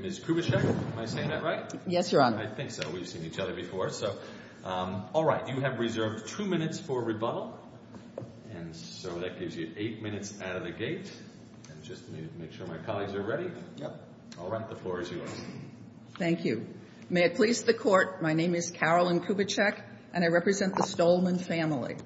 Ms. Kubitschek, am I saying that right? Yes, Your Honor. I think so. We've seen each other before. All right. You have reserved two minutes for rebuttal, and so that gives you eight minutes out of the gate. I just need to make sure my colleagues are ready. Yep. All right. The floor is yours. Thank you. May it please the Court, my name is Carolyn Kubitschek, and I represent the Stollman family.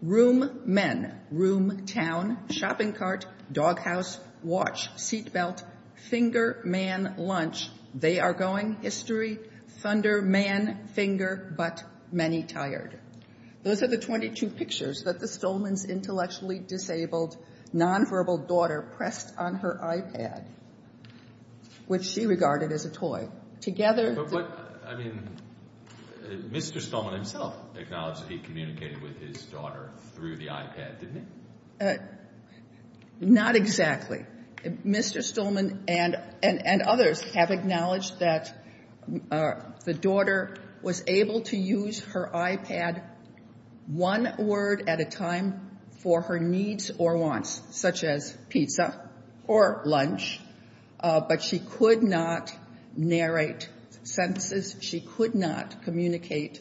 Room, men. Room, town. Shopping cart. Doghouse. Watch. Seatbelt. Finger. Man. Lunch. They are going. History. Thunder. Man. Finger. But. Many. Tired. Those are the 22 pictures that the Stollman's intellectually disabled, nonverbal daughter pressed on her iPad, which she regarded as a toy. But what, I mean, Mr. Stollman himself acknowledged he communicated with his daughter through the iPad, didn't he? Not exactly. Mr. Stollman and others have acknowledged that the daughter was able to use her iPad one word at a time for her needs or wants, such as pizza or lunch, but she could not narrate sentences. She could not communicate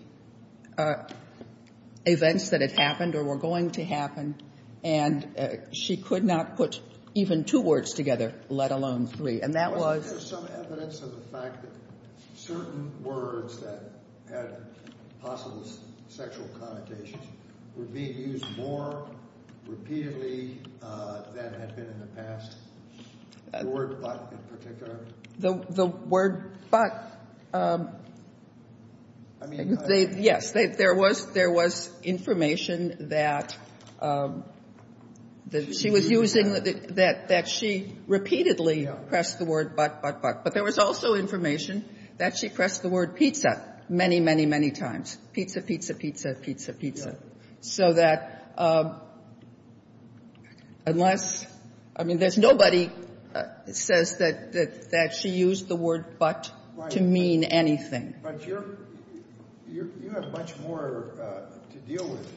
events that had happened or were going to happen. And she could not put even two words together, let alone three. And that was. Is there some evidence of the fact that certain words that had possible sexual connotations were being used more repeatedly than had been in the past? The word but in particular. The word but. I mean. Yes. There was information that she was using, that she repeatedly pressed the word but but but. But there was also information that she pressed the word pizza many, many, many times. Pizza, pizza, pizza, pizza, pizza. So that unless. I mean, there's nobody says that she used the word but to mean anything. But you have much more to deal with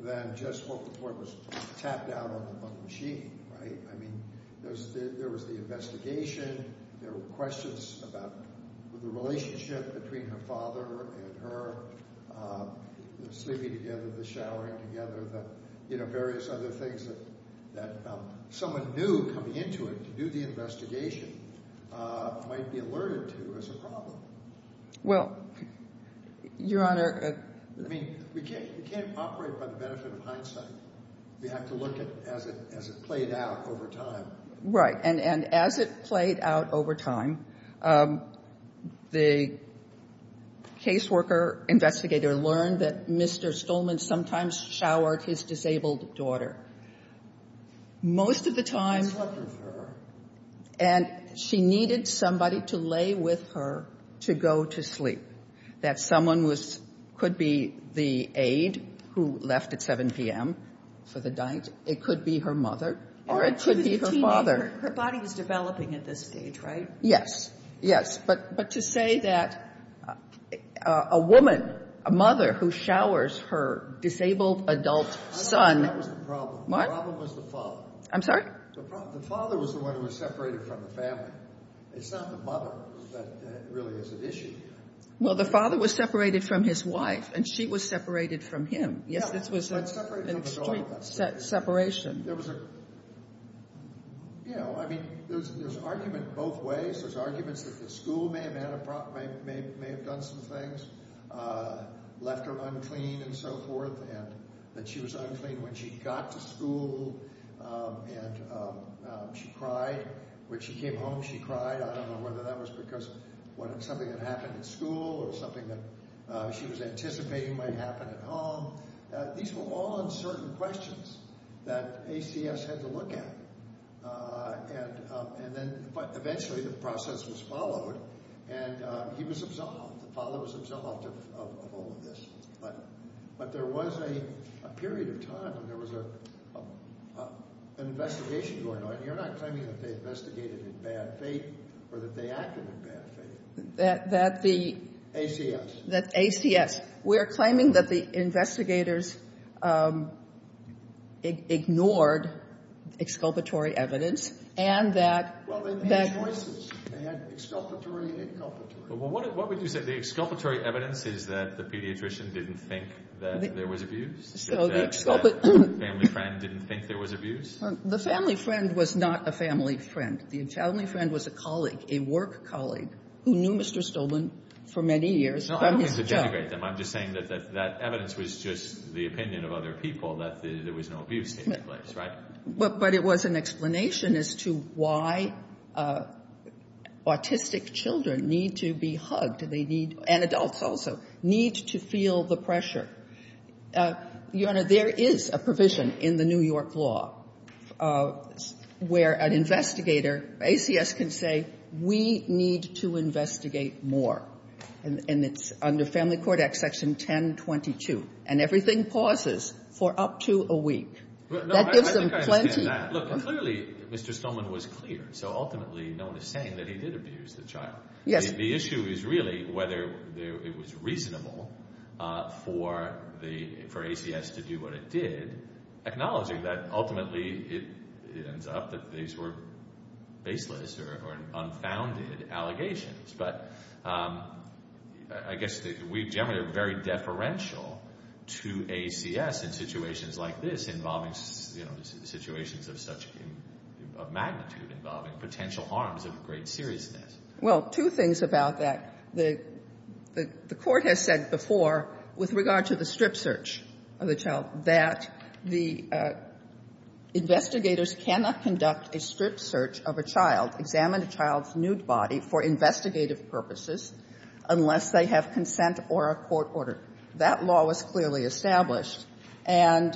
than just what was tapped out on the machine, right? I mean, there was the investigation. There were questions about the relationship between her father and her, the sleeping together, the showering together, the various other things that someone knew coming into it to do the investigation might be alerted to as a problem. Well, Your Honor. I mean, we can't operate by the benefit of hindsight. We have to look at it as it played out over time. And as it played out over time, the caseworker investigator learned that Mr. Stolman sometimes showered his disabled daughter. Most of the time. And she needed somebody to lay with her to go to sleep. That someone could be the aide who left at 7 p.m. for the diet. It could be her mother or it could be her father. Her body was developing at this stage, right? Yes. Yes. But to say that a woman, a mother who showers her disabled adult son. That was the problem. What? The problem was the father. I'm sorry? The father was the one who was separated from the family. It's not the mother that really is at issue. Well, the father was separated from his wife. And she was separated from him. Yes, this was an extreme separation. There was a, you know, I mean, there's argument both ways. There's arguments that the school may have done some things. Left her unclean and so forth. And that she was unclean when she got to school. And she cried. When she came home, she cried. I don't know whether that was because something had happened at school or something that she was anticipating might happen at home. These were all uncertain questions that ACS had to look at. And then eventually the process was followed, and he was absolved. The father was absolved of all of this. But there was a period of time when there was an investigation going on. You're not claiming that they investigated in bad faith or that they acted in bad faith. That the ACS. We're claiming that the investigators ignored exculpatory evidence and that... Well, they made choices. They had exculpatory and inculpatory. Well, what would you say the exculpatory evidence is that the pediatrician didn't think that there was abuse? That the family friend didn't think there was abuse? The family friend was not a family friend. The family friend was a colleague, a work colleague, who knew Mr. Stolman for many years. No, I don't want to denigrate them. I'm just saying that that evidence was just the opinion of other people that there was no abuse taking place, right? But it was an explanation as to why autistic children need to be hugged. And adults also need to feel the pressure. Your Honor, there is a provision in the New York law where an investigator... ACS can say we need to investigate more. And it's under Family Court Act Section 1022. And everything pauses for up to a week. That gives them plenty. No, I think I understand that. Look, clearly Mr. Stolman was clear. So ultimately no one is saying that he did abuse the child. Yes. The issue is really whether it was reasonable for ACS to do what it did, acknowledging that ultimately it ends up that these were baseless or unfounded allegations. But I guess we generally are very deferential to ACS in situations like this involving situations of such magnitude, involving potential harms of great seriousness. Well, two things about that. The Court has said before, with regard to the strip search of the child, that the investigators cannot conduct a strip search of a child, examine a child's nude body for investigative purposes unless they have consent or a court order. That law was clearly established. And...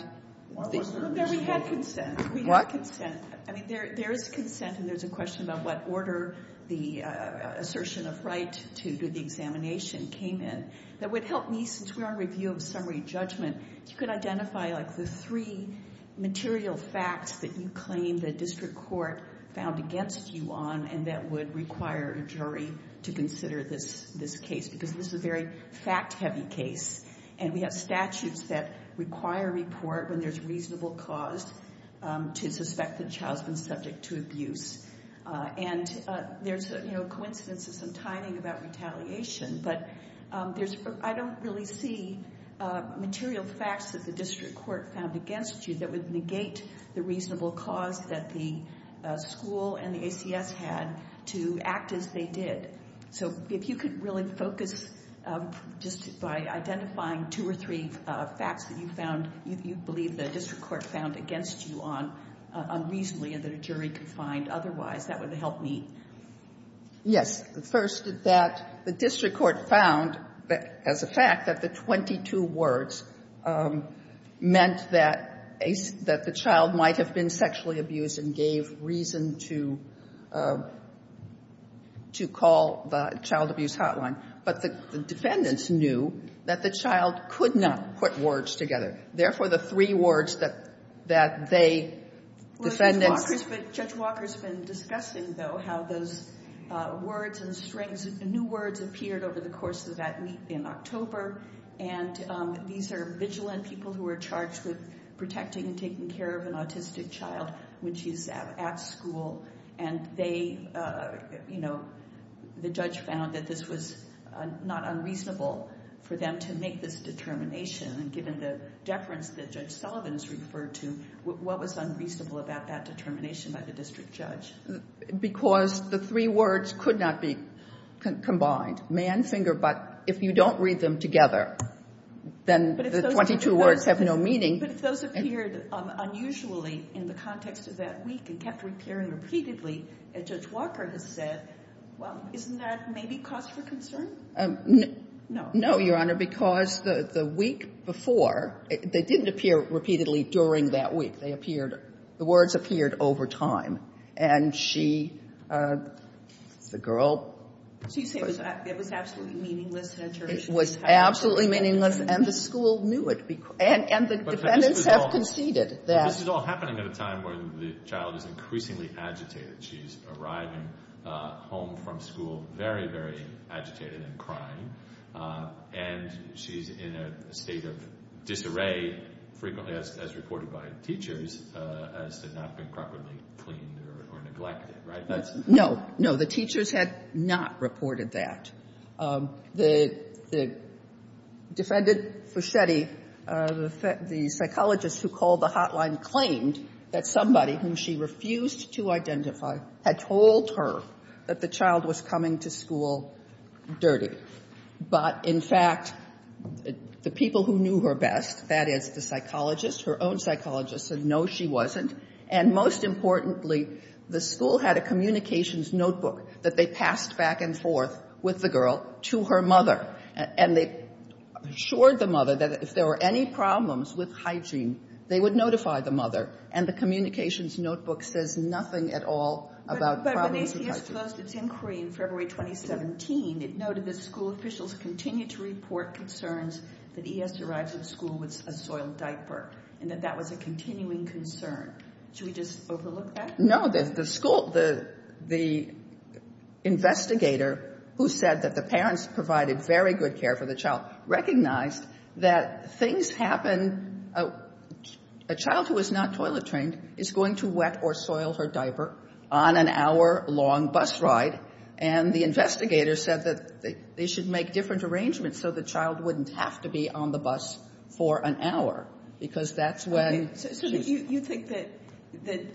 Why wasn't there consent? We had consent. What? We had consent. I mean, there is consent, and there's a question about what order the assertion of right to do the examination came in. That would help me, since we're on review of summary judgment, if you could identify the three material facts that you claim the district court found against you on and that would require a jury to consider this case, because this is a very fact-heavy case. And we have statutes that require a report when there's reasonable cause to suspect the child's been subject to abuse. And there's a coincidence of some timing about retaliation, but I don't really see material facts that the district court found against you that would negate the reasonable cause that the school and the ACS had to act as they did. So if you could really focus just by identifying two or three facts that you found, you believe the district court found against you on, reasonably, and that a jury could find otherwise, that would help me. Yes. First, that the district court found, as a fact, that the 22 words meant that the child might have been sexually abused and gave reason to call the child abuse hotline. But the defendants knew that the child could not put words together. Therefore, the three words that they, defendants— Judge Walker's been discussing, though, how those words and new words appeared over the course of that week in October. And these are vigilant people who are charged with protecting and taking care of an autistic child when she's at school. And they, you know, the judge found that this was not unreasonable for them to make this determination. And given the deference that Judge Sullivan's referred to, what was unreasonable about that determination by the district judge? Because the three words could not be combined. Man, finger, but, if you don't read them together, then the 22 words have no meaning. But if those appeared unusually in the context of that week and kept appearing repeatedly, as Judge Walker has said, well, isn't that maybe cause for concern? No. No, Your Honor, because the week before, they didn't appear repeatedly during that week. They appeared—the words appeared over time. And she, the girl— So you say it was absolutely meaningless determination? It was absolutely meaningless, and the school knew it. And the defendants have conceded that— But this is all happening at a time when the child is increasingly agitated. She's arriving home from school very, very agitated and crying. And she's in a state of disarray, frequently, as reported by teachers, as to not being properly cleaned or neglected, right? No. No, the teachers had not reported that. The defendant, Fuschetti, the psychologist who called the hotline, claimed that somebody whom she refused to identify had told her that the child was coming to school dirty. But, in fact, the people who knew her best, that is the psychologist, her own psychologist, said no, she wasn't. And most importantly, the school had a communications notebook that they passed back and forth with the girl to her mother. And they assured the mother that if there were any problems with hygiene, they would notify the mother. And the communications notebook says nothing at all about problems with hygiene. When the school closed its inquiry in February 2017, it noted that school officials continue to report concerns that E.S. arrives at school with a soiled diaper and that that was a continuing concern. Should we just overlook that? No. The investigator who said that the parents provided very good care for the child recognized that things happen. A child who is not toilet trained is going to wet or soil her diaper on an hour-long bus ride. And the investigator said that they should make different arrangements so the child wouldn't have to be on the bus for an hour because that's when... So you think that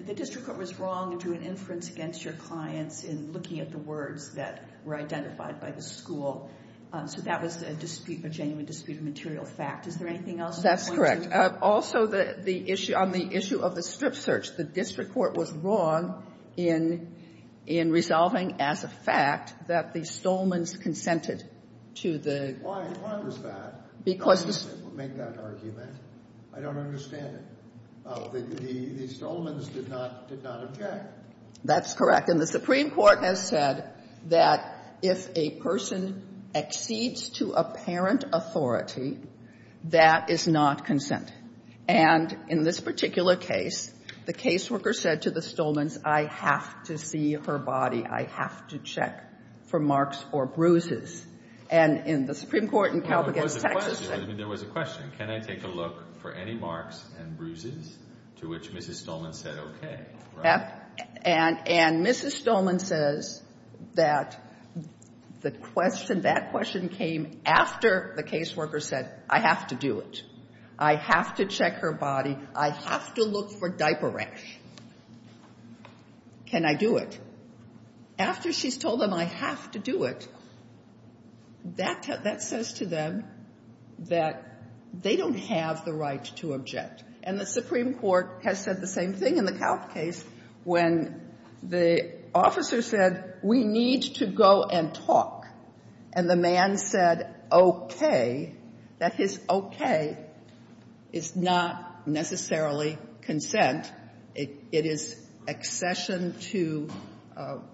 the district court was wrong and drew an inference against your clients in looking at the words that were identified by the school. So that was a dispute, a genuine dispute of material fact. Is there anything else you want to... Also, on the issue of the strip search, the district court was wrong in resolving as a fact that the Stolmans consented to the... Why was that? Because... Don't make that argument. I don't understand it. The Stolmans did not object. That's correct. And the Supreme Court has said that if a person exceeds to apparent authority, that is not consent. And in this particular case, the caseworker said to the Stolmans, I have to see her body. I have to check for marks or bruises. And in the Supreme Court in Calpagass, Texas... Well, there was a question. I mean, there was a question. Can I take a look for any marks and bruises, to which Mrs. Stolmans said okay, right? And Mrs. Stolmans says that the question... That question came after the caseworker said I have to do it. I have to check her body. I have to look for diaper rash. Can I do it? After she's told them I have to do it, that says to them that they don't have the right to object. And the Supreme Court has said the same thing in the Calp case when the officer said we need to go and talk. And the man said okay, that his okay is not necessarily consent. It is accession to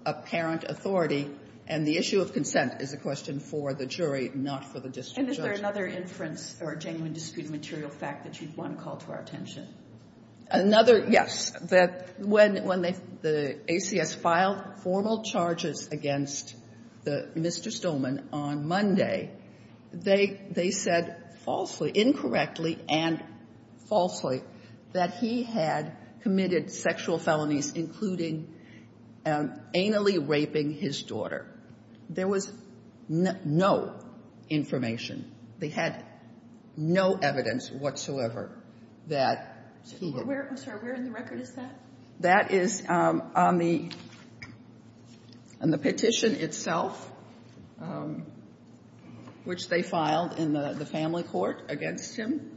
apparent authority. And the issue of consent is a question for the jury, not for the district judge. And is there another inference or genuine disputed material fact that you'd want to call to our attention? Another, yes. When the ACS filed formal charges against Mr. Stolman on Monday, they said falsely, incorrectly and falsely, that he had committed sexual felonies, including anally raping his daughter. There was no information. They had no evidence whatsoever that he had. I'm sorry. Where in the record is that? That is on the petition itself, which they filed in the family court against him.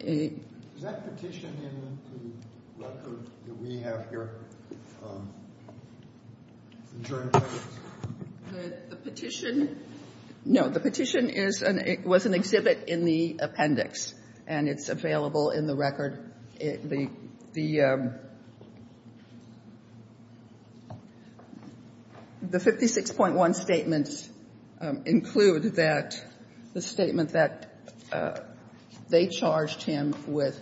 Is that petition in the record that we have here? The petition, no, the petition was an exhibit in the appendix. And it's available in the record. The 56.1 statements include that the statement that they charged him with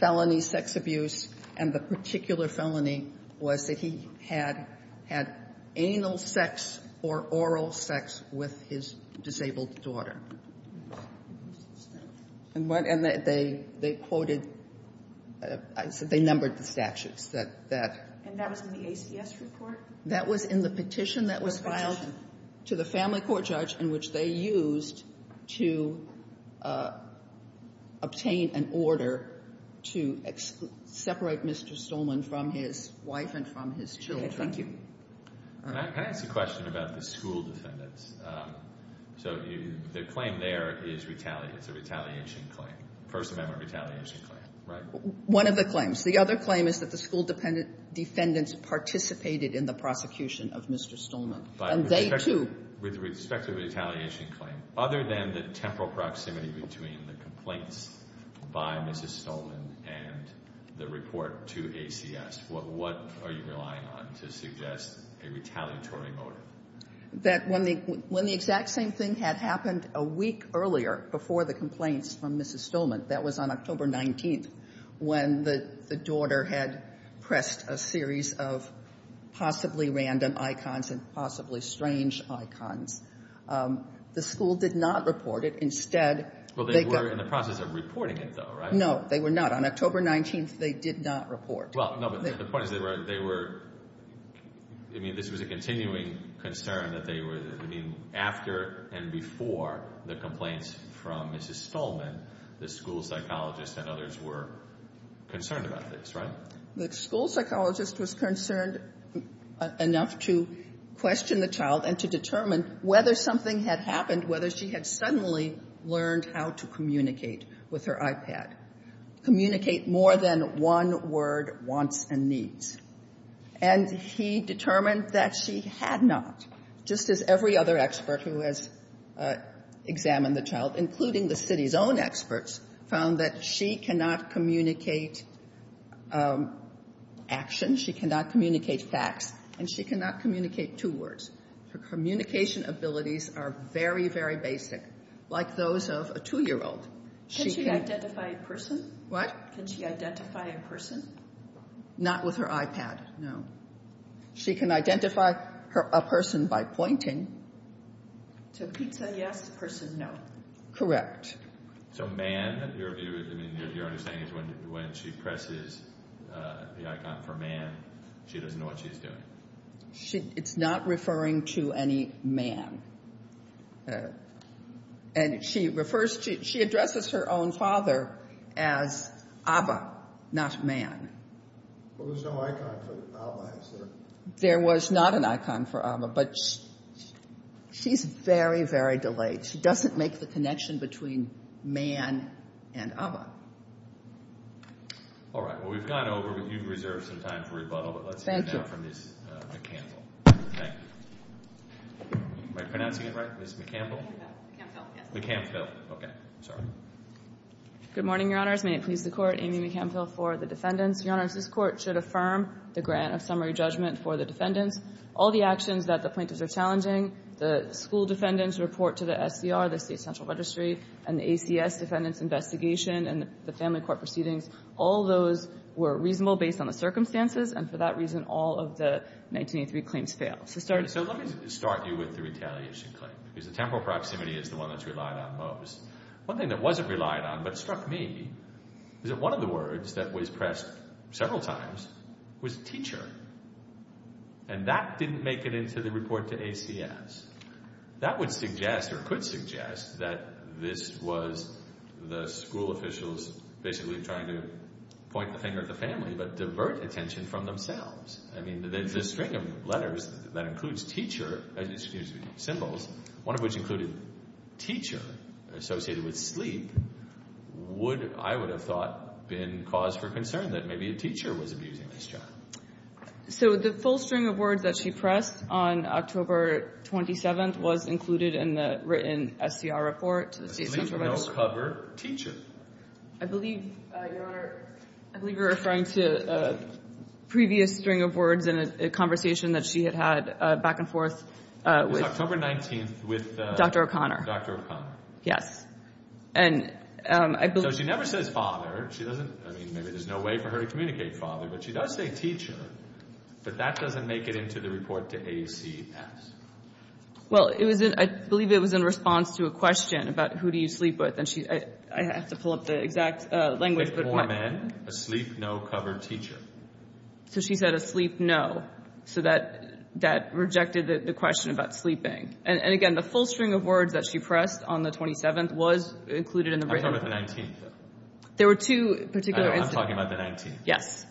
felony sex abuse and the particular felony was that he had anal sex or oral sex with his disabled daughter. And they quoted, they numbered the statutes. And that was in the ACS report? That was in the petition that was filed to the family court judge in which they used to obtain an order to separate Mr. Stolman from his wife and from his children. Okay, thank you. Can I ask a question about the school defendants? So the claim there is retaliation, it's a retaliation claim, First Amendment retaliation claim, right? One of the claims. The other claim is that the school defendants participated in the prosecution of Mr. Stolman. And they, too. With respect to the retaliation claim, other than the temporal proximity between the complaints by Mrs. Stolman and the report to ACS, what are you relying on to suggest a retaliatory motive? That when the exact same thing had happened a week earlier before the complaints from Mrs. Stolman, that was on October 19th, when the daughter had pressed a series of possibly random icons and possibly strange icons, the school did not report it. Instead, they got… Well, they were in the process of reporting it, though, right? No, they were not. On October 19th, they did not report. Well, no, but the point is they were… I mean, this was a continuing concern that they were… I mean, after and before the complaints from Mrs. Stolman, the school psychologist and others were concerned about this, right? The school psychologist was concerned enough to question the child and to determine whether something had happened, whether she had suddenly learned how to communicate with her iPad. Communicate more than one word, wants and needs. And he determined that she had not, just as every other expert who has examined the child, including the city's own experts, found that she cannot communicate action, she cannot communicate facts, and she cannot communicate two words. Her communication abilities are very, very basic, like those of a 2-year-old. Can she identify a person? What? Can she identify a person? Not with her iPad, no. She can identify a person by pointing. To pizza, yes. Person, no. Correct. So, man, your understanding is when she presses the icon for man, she doesn't know what she's doing. It's not referring to any man. And she refers to, she addresses her own father as Abba, not man. Well, there's no icon for Abba, is there? There was not an icon for Abba, but she's very, very delayed. She doesn't make the connection between man and Abba. All right. Well, we've gone over, but you've reserved some time for rebuttal. Thank you. And now for Ms. McCampbell. Thank you. Am I pronouncing it right? Ms. McCampbell? McCampbell, yes. McCampbell. Okay. Sorry. Good morning, Your Honors. May it please the Court. Amy McCampbell for the defendants. Your Honors, this Court should affirm the grant of summary judgment for the defendants. All the actions that the plaintiffs are challenging, the school defendants' report to the SCR, the State Central Registry, and the ACS defendants' investigation and the family court proceedings, all those were reasonable based on the circumstances, and for that reason, all of the 1983 claims fail. So let me start you with the retaliation claim. Because the temporal proximity is the one that's relied on most. One thing that wasn't relied on, but struck me, is that one of the words that was pressed several times was teacher. And that didn't make it into the report to ACS. That would suggest or could suggest that this was the school officials basically trying to point the finger at the family but divert attention from themselves. I mean, there's a string of letters that includes teacher, excuse me, symbols, one of which included teacher associated with sleep, would, I would have thought, been cause for concern that maybe a teacher was abusing this child. So the full string of words that she pressed on October 27th was included in the written SCR report to the State Central Registry. Sleep, no cover, teacher. I believe, Your Honor, I believe you're referring to a previous string of words in a conversation that she had had back and forth with Dr. O'Connor. It was October 19th with Dr. O'Connor. Yes. So she never says father. I mean, maybe there's no way for her to communicate father, but she does say teacher. But that doesn't make it into the report to ACS. Well, I believe it was in response to a question about who do you sleep with. I have to pull up the exact language. A poor man. A sleep, no cover, teacher. So she said a sleep, no. So that rejected the question about sleeping. And again, the full string of words that she pressed on the 27th was included in the written. I'm talking about the 19th. There were two particular instances. I'm talking about the 19th. Yes.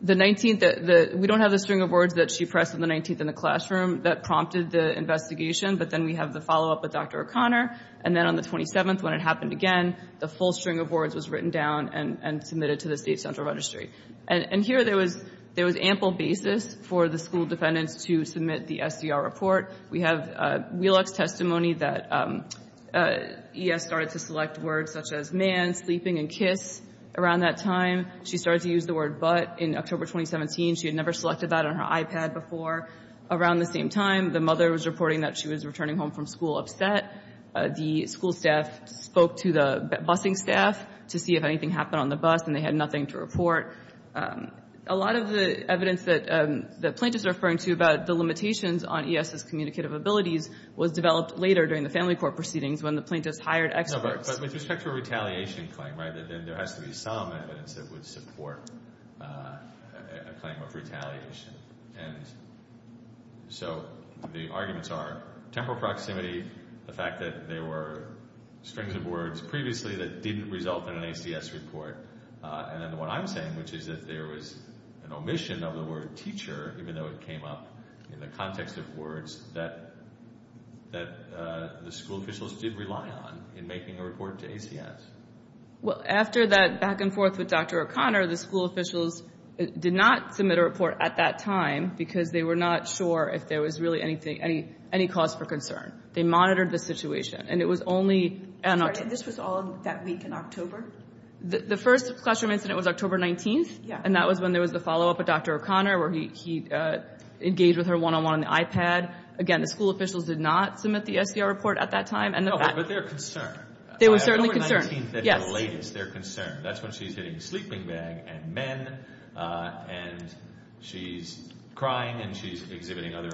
The 19th, we don't have the string of words that she pressed on the 19th in the classroom that prompted the investigation, but then we have the follow-up with Dr. O'Connor, and then on the 27th when it happened again, the full string of words was written down and submitted to the State Central Registry. And here there was ample basis for the school defendants to submit the SDR report. We have Wheelock's testimony that ES started to select words such as man, sleeping, and kiss. Around that time, she started to use the word but in October 2017. She had never selected that on her iPad before. Around the same time, the mother was reporting that she was returning home from school upset. The school staff spoke to the busing staff to see if anything happened on the bus, and they had nothing to report. A lot of the evidence that the plaintiffs are referring to about the limitations on ES's communicative abilities was developed later during the family court proceedings when the plaintiffs hired experts. No, but with respect to a retaliation claim, right, then there has to be some evidence that would support a claim of retaliation. And so the arguments are temporal proximity, the fact that there were strings of words previously that didn't result in an ACS report, and then what I'm saying, which is that there was an omission of the word teacher, even though it came up in the context of words that the school officials did rely on in making a report to ACS. Well, after that back-and-forth with Dr. O'Connor, the school officials did not submit a report at that time because they were not sure if there was really any cause for concern. They monitored the situation, and it was only in October. And this was all that week in October? The first classroom incident was October 19th, and that was when there was the follow-up with Dr. O'Connor where he engaged with her one-on-one on the iPad. Again, the school officials did not submit the SCR report at that time. No, but they were concerned. They were certainly concerned, yes. October 19th at the latest, they're concerned. That's when she's hitting sleeping bag and men, and she's crying and she's exhibiting other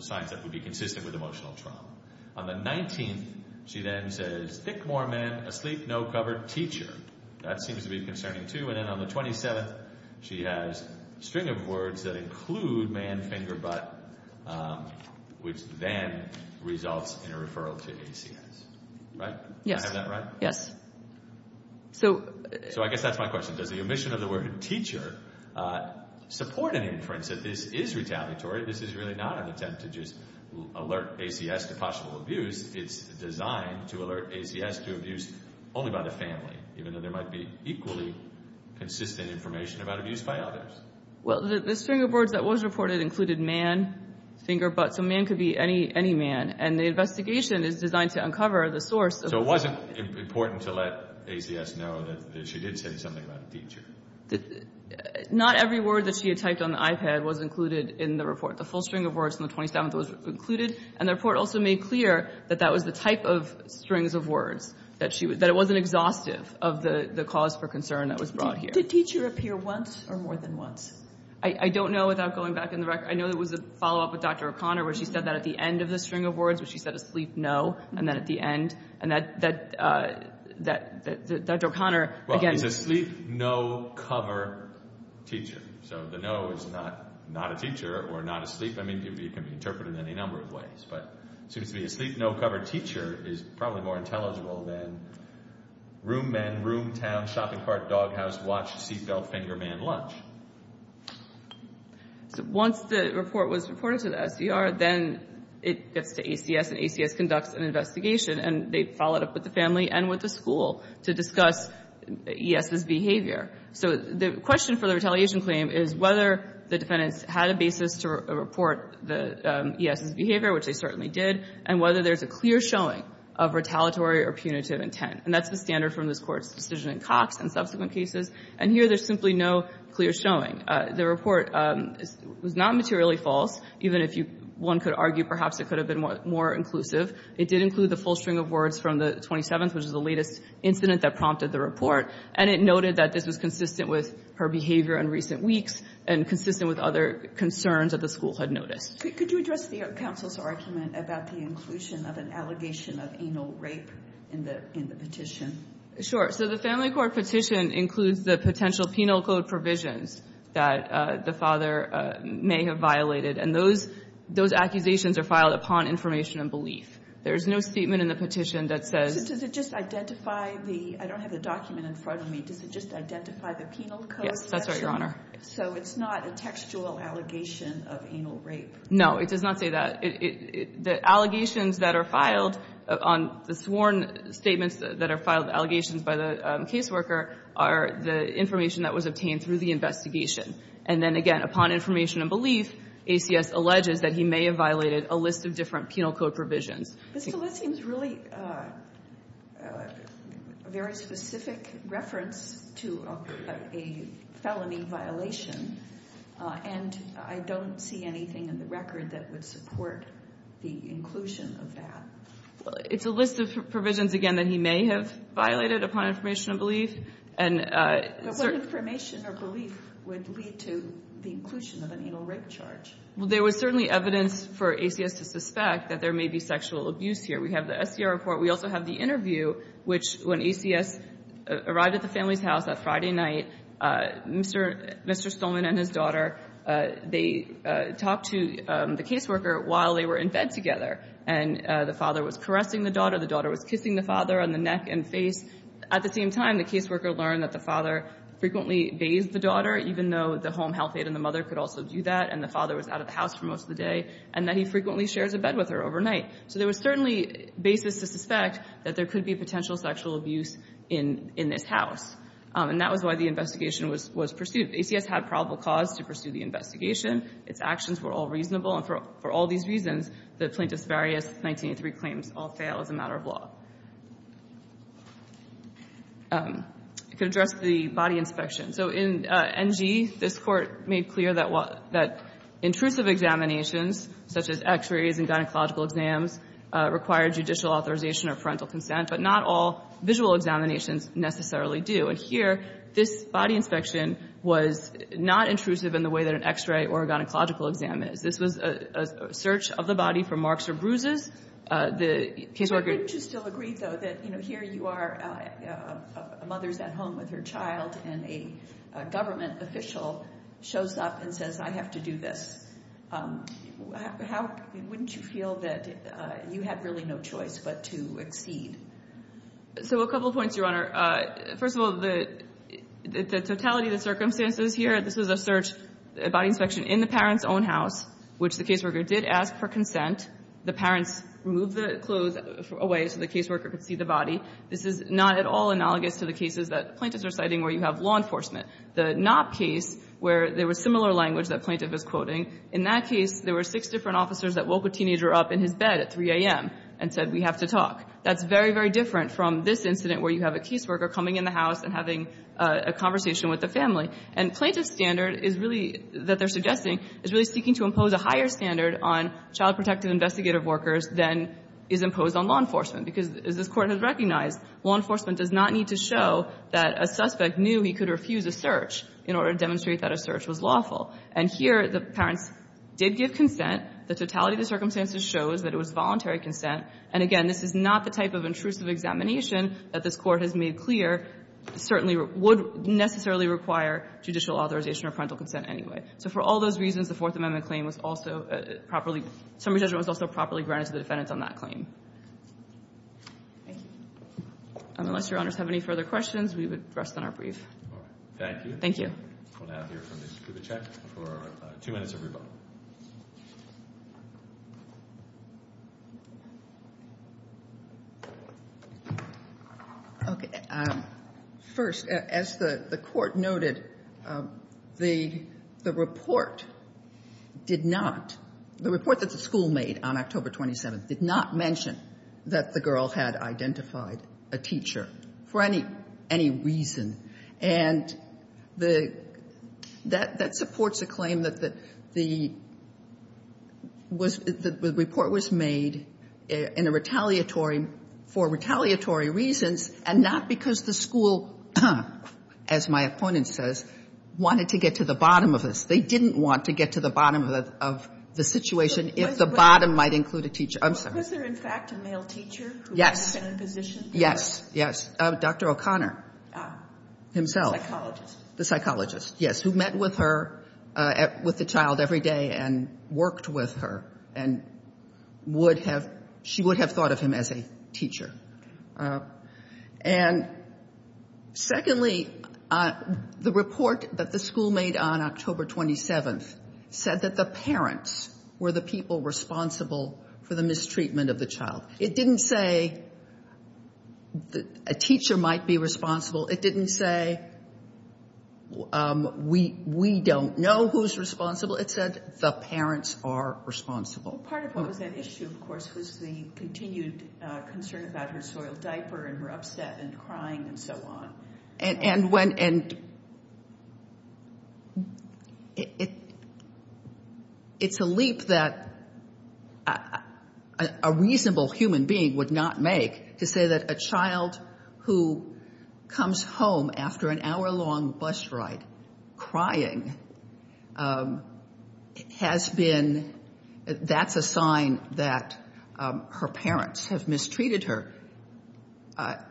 signs that would be consistent with emotional trauma. On the 19th, she then says, thick more men, asleep, no cover, teacher. That seems to be concerning, too. And then on the 27th, she has a string of words that include man, finger, butt, which then results in a referral to ACS, right? Yes. Do I have that right? Yes. So I guess that's my question. Does the omission of the word teacher support an inference that this is retaliatory? This is really not an attempt to just alert ACS to possible abuse. It's designed to alert ACS to abuse only by the family, even though there might be equally consistent information about abuse by others. Well, the string of words that was reported included man, finger, butt. So man could be any man. And the investigation is designed to uncover the source. So it wasn't important to let ACS know that she did say something about a teacher? Not every word that she had typed on the iPad was included in the report. The full string of words from the 27th was included, and the report also made clear that that was the type of strings of words, that it wasn't exhaustive of the cause for concern that was brought here. Did teacher appear once or more than once? I don't know without going back in the record. I know there was a follow-up with Dr. O'Connor where she said that at the end of the string of words, where she said asleep, no, and then at the end. And Dr. O'Connor, again. Well, is asleep, no, cover, teacher. So the no is not a teacher or not asleep. I mean, it can be interpreted in any number of ways. But it seems to me asleep, no, cover, teacher is probably more intelligible than room men, room, town, shopping cart, dog house, watch, seat belt, finger man, lunch. Once the report was reported to the SDR, then it gets to ACS, and ACS conducts an investigation, and they follow it up with the family and with the school to discuss ES's behavior. So the question for the retaliation claim is whether the defendants had a basis to report the ES's behavior, which they certainly did, and whether there's a clear showing of retaliatory or punitive intent. And that's the standard from this Court's decision in Cox and subsequent cases. And here there's simply no clear showing. The report was not materially false. Even if one could argue perhaps it could have been more inclusive, it did include the full string of words from the 27th, which is the latest incident that prompted the report. And it noted that this was consistent with her behavior in recent weeks and consistent with other concerns that the school had noticed. Could you address the counsel's argument about the inclusion of an allegation of anal rape in the petition? Sure. So the family court petition includes the potential penal code provisions that the father may have violated, and those accusations are filed upon information and belief. There is no statement in the petition that says the father may have violated. I don't have the document in front of me. Does it just identify the penal code section? Yes, that's right, Your Honor. So it's not a textual allegation of anal rape? No, it does not say that. The allegations that are filed on the sworn statements that are filed, allegations by the caseworker, are the information that was obtained through the investigation. And then, again, upon information and belief, ACS alleges that he may have violated a list of different penal code provisions. This list seems really a very specific reference to a felony violation, and I don't see anything in the record that would support the inclusion of that. It's a list of provisions, again, that he may have violated upon information and belief. But what information or belief would lead to the inclusion of an anal rape charge? Well, there was certainly evidence for ACS to suspect that there may be sexual abuse here. We have the SDR report. We also have the interview, which when ACS arrived at the family's house that Friday night, Mr. Stolman and his daughter, they talked to the caseworker while they were in bed together. And the father was caressing the daughter. The daughter was kissing the father on the neck and face. At the same time, the caseworker learned that the father frequently bathed the daughter, even though the home health aide and the mother could also do that, and the father was out of the house for most of the day, and that he frequently shares a bed with her overnight. So there was certainly basis to suspect that there could be potential sexual abuse in this house. And that was why the investigation was pursued. ACS had probable cause to pursue the investigation. Its actions were all reasonable, and for all these reasons, the plaintiff's various 1983 claims all fail as a matter of law. I could address the body inspection. So in NG, this Court made clear that intrusive examinations, such as x-rays and gynecological exams, require judicial authorization or parental consent, but not all visual examinations necessarily do. And here, this body inspection was not intrusive in the way that an x-ray or a gynecological exam is. This was a search of the body for marks or bruises. The caseworker ---- The government official shows up and says, I have to do this. Wouldn't you feel that you had really no choice but to exceed? So a couple of points, Your Honor. First of all, the totality of the circumstances here, this was a search, a body inspection in the parent's own house, which the caseworker did ask for The parents removed the clothes away so the caseworker could see the body. This is not at all analogous to the cases that plaintiffs are citing where you have law enforcement. The Knopp case, where there was similar language that plaintiff was quoting, in that case, there were six different officers that woke a teenager up in his bed at 3 a.m. and said, we have to talk. That's very, very different from this incident where you have a caseworker coming in the house and having a conversation with the family. And plaintiff's standard is really ---- that they're suggesting is really seeking to impose a higher standard on child protective investigative workers than is imposed on law enforcement, because as this Court has recognized, law enforcement does not need to show that a suspect knew he could refuse a search in order to demonstrate that a search was lawful. And here, the parents did give consent. The totality of the circumstances shows that it was voluntary consent. And again, this is not the type of intrusive examination that this Court has made clear certainly would necessarily require judicial authorization or parental consent anyway. So for all those reasons, the Fourth Amendment claim was also properly ---- summary judgment was also properly granted to the defendants on that claim. Thank you. Unless Your Honors have any further questions, we would rest on our brief. All right. Thank you. Thank you. We'll now hear from the Chief of the Check for two minutes of rebuttal. Okay. First, as the Court noted, the report did not ---- the report that the school made on October 27th did not mention that the girl had identified a teacher for any reason. And that supports a claim that the report was made in a retaliatory ---- for retaliatory reasons and not because the school, as my opponent says, wanted to get to the bottom of this. Yes. Yes. Yes. Dr. O'Connor himself. Psychologist. The psychologist, yes, who met with her at ---- with the child every day and worked with her and would have ---- she would have thought of him as a teacher. And secondly, the report that the school made on October 27th said that the parents were the people responsible for the mistreatment of the child. It didn't say a teacher might be responsible. It didn't say we don't know who's responsible. It said the parents are responsible. Well, part of what was at issue, of course, was the continued concern about her soiled diaper and her upset and crying and so on. And when ---- it's a leap that a reasonable human being would not make to say that a child who comes home after an hour-long bus ride crying has been ---- that's a sign that her parents have mistreated her. Her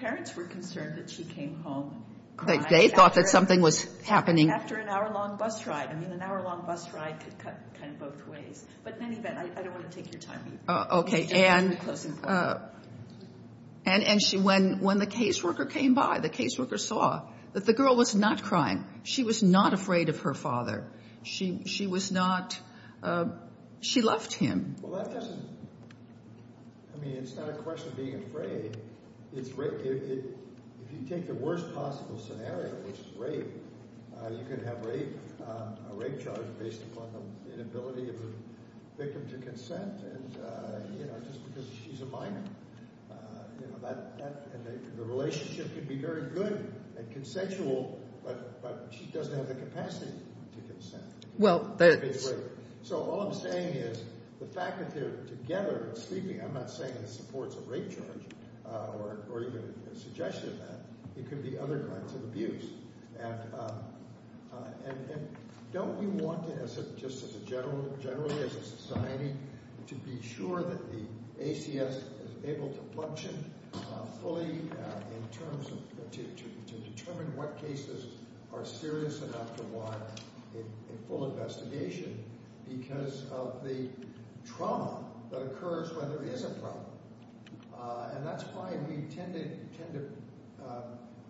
parents were concerned that she came home crying after an hour-long bus ride. I mean, an hour-long bus ride could cut kind of both ways. But in any event, I don't want to take your time. Okay. And when the caseworker came by, the caseworker saw that the girl was not crying. She was not afraid of her father. She was not ---- she loved him. Well, that doesn't ---- I mean, it's not a question of being afraid. If you take the worst possible scenario, which is rape, you can have a rape charge based upon the inability of the victim to consent. And, you know, just because she's a minor, you know, that ---- and the relationship could be very good and consensual, but she doesn't have the capacity to consent. Well, there's ---- So all I'm saying is the fact that they're together and sleeping, I'm not saying it supports a rape charge or even a suggestion of that. It could be other kinds of abuse. And don't we want to, just as a general ---- generally as a society, to be sure that the ACS is able to function fully in terms of ---- to determine what cases are serious enough to because of the trauma that occurs when there is a problem. And that's why we tend to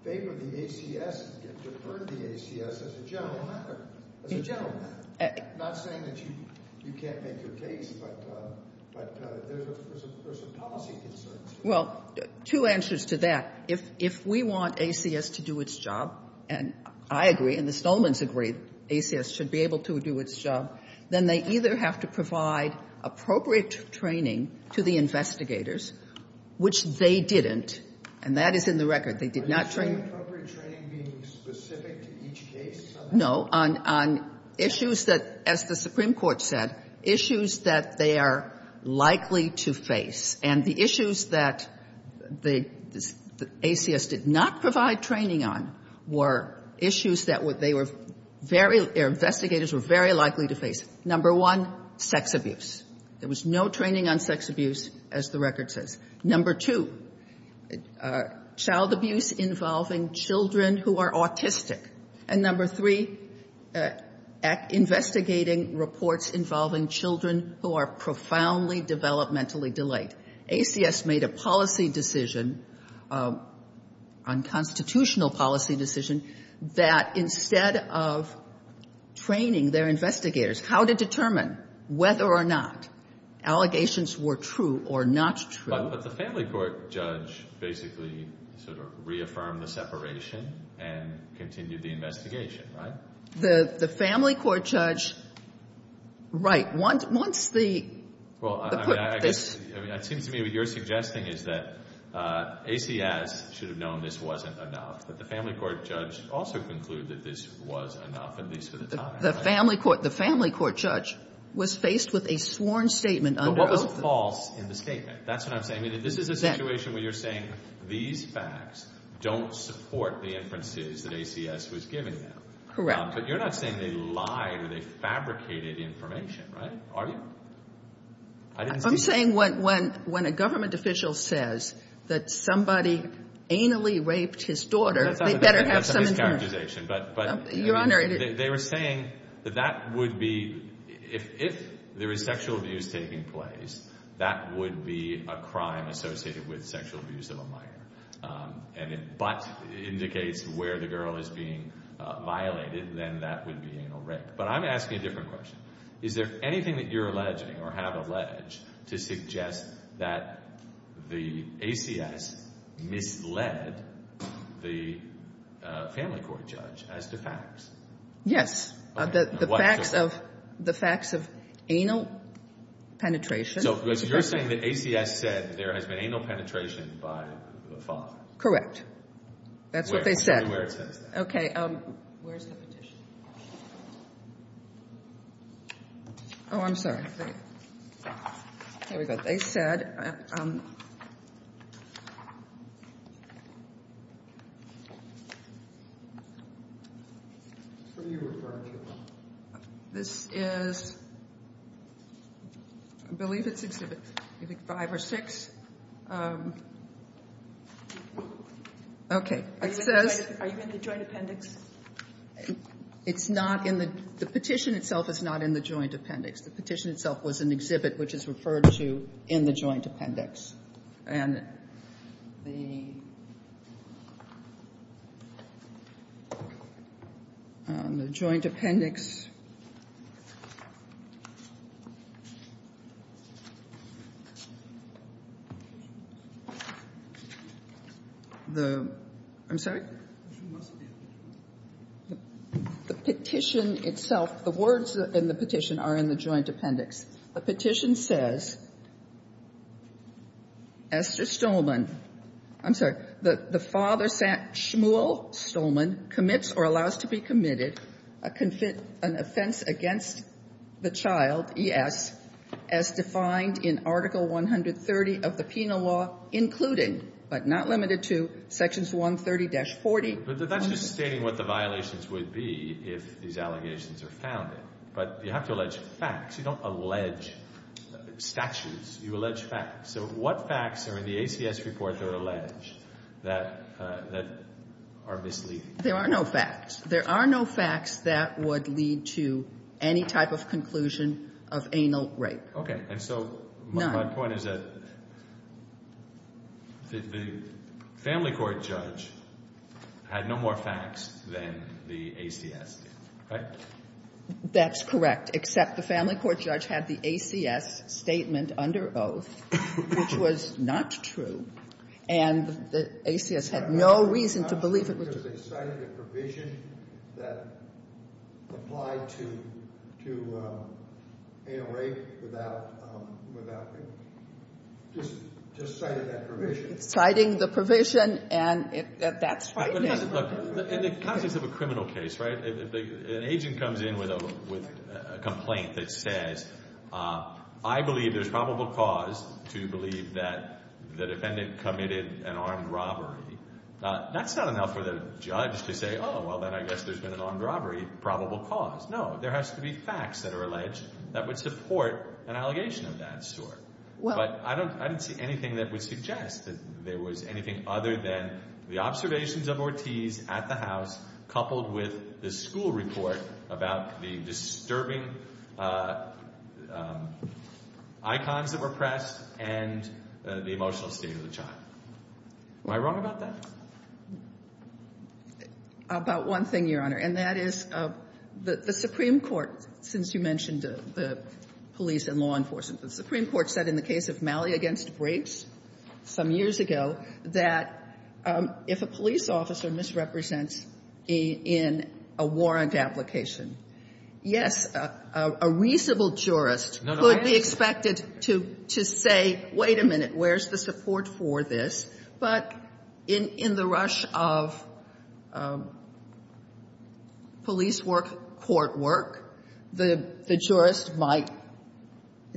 favor the ACS and defer to the ACS as a general matter. As a general matter. I'm not saying that you can't make your case, but there's a policy concern. Well, two answers to that. If we want ACS to do its job, and I agree and the Stolmans agree, ACS should be able to do its job, then they either have to provide appropriate training to the investigators, which they didn't, and that is in the record. They did not train ---- Are you saying appropriate training being specific to each case? No. On issues that, as the Supreme Court said, issues that they are likely to face. And the issues that the ACS did not provide training on were issues that they were very ---- their investigators were very likely to face. Number one, sex abuse. There was no training on sex abuse, as the record says. Number two, child abuse involving children who are autistic. And number three, investigating reports involving children who are profoundly developmentally delayed. ACS made a policy decision, unconstitutional policy decision, that instead of training their investigators how to determine whether or not allegations were true or not true ---- But the family court judge basically sort of reaffirmed the separation and continued the investigation, right? The family court judge, right. Once the ---- Well, I mean, it seems to me what you're suggesting is that ACS should have known this wasn't enough, but the family court judge also concluded that this was enough, at least for the time. The family court judge was faced with a sworn statement under oath. But what was false in the statement? That's what I'm saying. This is a situation where you're saying these facts don't support the inferences that ACS was giving them. Correct. But you're not saying they lied or they fabricated information, right? Are you? I'm saying when a government official says that somebody anally raped his daughter, they better have some information. That's a mischaracterization. Your Honor, it is. They were saying that that would be, if there is sexual abuse taking place, that would be a crime associated with sexual abuse of a minor. And if but indicates where the girl is being violated, then that would be anal rape. But I'm asking a different question. Is there anything that you're alleging or have alleged to suggest that the ACS misled the family court judge as to facts? Yes. The facts of anal penetration. So you're saying that ACS said there has been anal penetration by the father. Correct. That's what they said. Tell me where it says that. Okay. Where's the petition? Oh, I'm sorry. Here we go. They said. What are you referring to? This is, I believe it's exhibit five or six. Okay. It says. Are you in the joint appendix? It's not in the. The petition itself is not in the joint appendix. The petition itself was an exhibit which is referred to in the joint appendix. And the joint appendix. The. I'm sorry. The petition itself. The words in the petition are in the joint appendix. The petition says. Esther Stolman. I'm sorry. The father, Samuel Stolman, commits or allows to be committed an offense against the child, ES, as defined in Article 130 of the Penal Law, including, but not limited to, Sections 130-40. But that's just stating what the violations would be if these allegations are founded. But you have to allege facts. You don't allege statutes. You allege facts. So what facts are in the ACS report that are alleged that are misleading? There are no facts. There are no facts that would lead to any type of conclusion of anal rape. Okay. And so. My point is that the family court judge had no more facts than the ACS did. Right? That's correct. Except the family court judge had the ACS statement under oath, which was not true. And the ACS had no reason to believe it was true. Because they cited a provision that applied to anal rape without rape. Just cited that provision. Citing the provision, and that's frightening. Look, in the context of a criminal case, right, if an agent comes in with a complaint that says, I believe there's probable cause to believe that the defendant committed an armed robbery, that's not enough for the judge to say, Oh, well then I guess there's been an armed robbery, probable cause. No. There has to be facts that are alleged that would support an allegation of that sort. But I don't see anything that would suggest that there was anything other than the observations of Ortiz at the house coupled with the school report about the disturbing icons that were pressed and the emotional state of the child. Am I wrong about that? About one thing, Your Honor. And that is the Supreme Court, since you mentioned the police and law enforcement, the Supreme Court said in the case of Malley v. Briggs some years ago that if a police officer misrepresents in a warrant application, yes, a reasonable jurist could be expected to say, wait a minute, where's the support for this? But in the rush of police work, court work, the jurist might,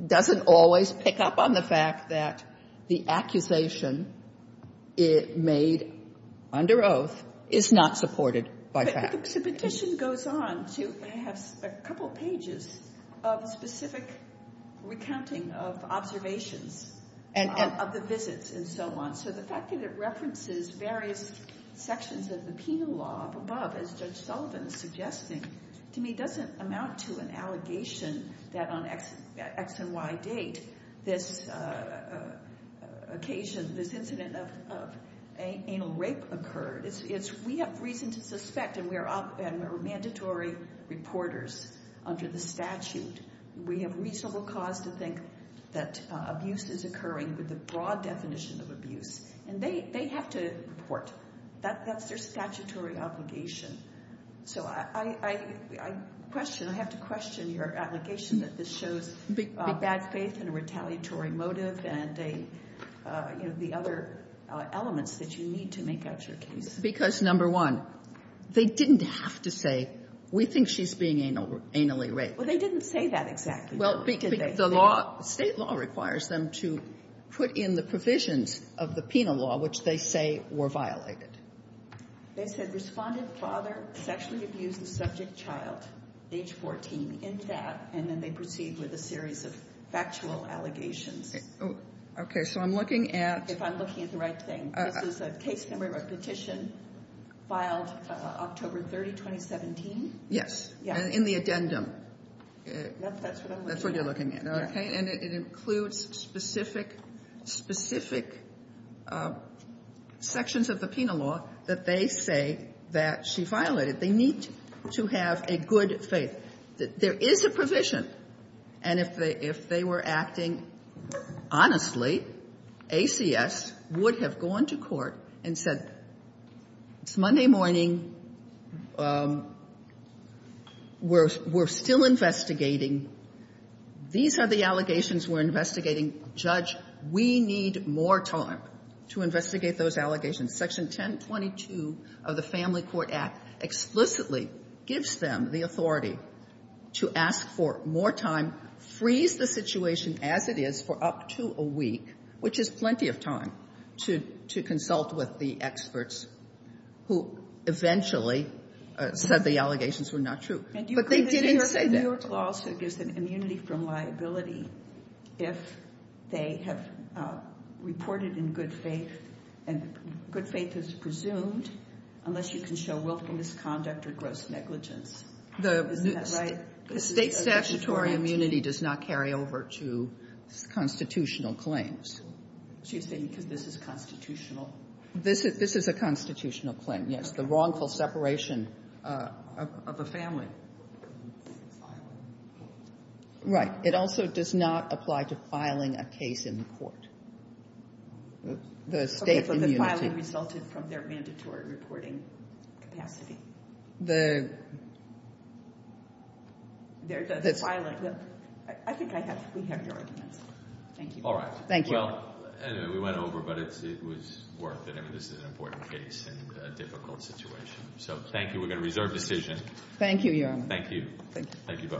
doesn't always pick up on the fact that the accusation made under oath is not supported by facts. The petition goes on to perhaps a couple pages of specific recounting of observations of the visits and so on. So the fact that it references various sections of the penal law above, as Judge Sullivan is suggesting, to me doesn't amount to an allegation that on X and Y date this occasion, this incident of anal rape occurred. We have reason to suspect, and we are mandatory reporters under the statute, we have reasonable cause to think that abuse is occurring with a broad definition of abuse. And they have to report. That's their statutory obligation. So I question, I have to question your allegation that this shows bad faith and a retaliatory motive and, you know, the other elements that you need to make out your case. Because, number one, they didn't have to say, we think she's being anally raped. Well, they didn't say that exactly, did they? Well, the law, State law requires them to put in the provisions of the penal law, which they say were violated. They said responded father sexually abused the subject child, age 14, in that, and then they proceed with a series of factual allegations. Okay. So I'm looking at. If I'm looking at the right thing. This is a case memory of a petition filed October 30, 2017? Yes. In the addendum. That's what I'm looking at. That's what you're looking at. Okay. And it includes specific sections of the penal law that they say that she violated. They need to have a good faith. There is a provision. And if they were acting honestly, ACS would have gone to court and said, It's Monday morning. We're still investigating. These are the allegations we're investigating. Judge, we need more time to investigate those allegations. Section 1022 of the Family Court Act explicitly gives them the authority to ask for more time, freeze the situation as it is for up to a week, which is plenty of time, to consult with the experts who eventually said the allegations were not true. But they didn't say that. New York law also gives them immunity from liability if they have reported in good faith, and good faith is presumed unless you can show willful misconduct or gross negligence. Isn't that right? State statutory immunity does not carry over to constitutional claims. Excuse me, because this is constitutional. This is a constitutional claim, yes, the wrongful separation of a family. Right. It also does not apply to filing a case in the court. The state immunity. Okay, but the filing resulted from their mandatory reporting capacity. There's a filing. I think we have your argument. Thank you. All right. Thank you. Well, we went over, but it was worth it. I mean, this is an important case and a difficult situation. So thank you. We're going to reserve decision. Thank you, Your Honor. Thank you. Thank you both.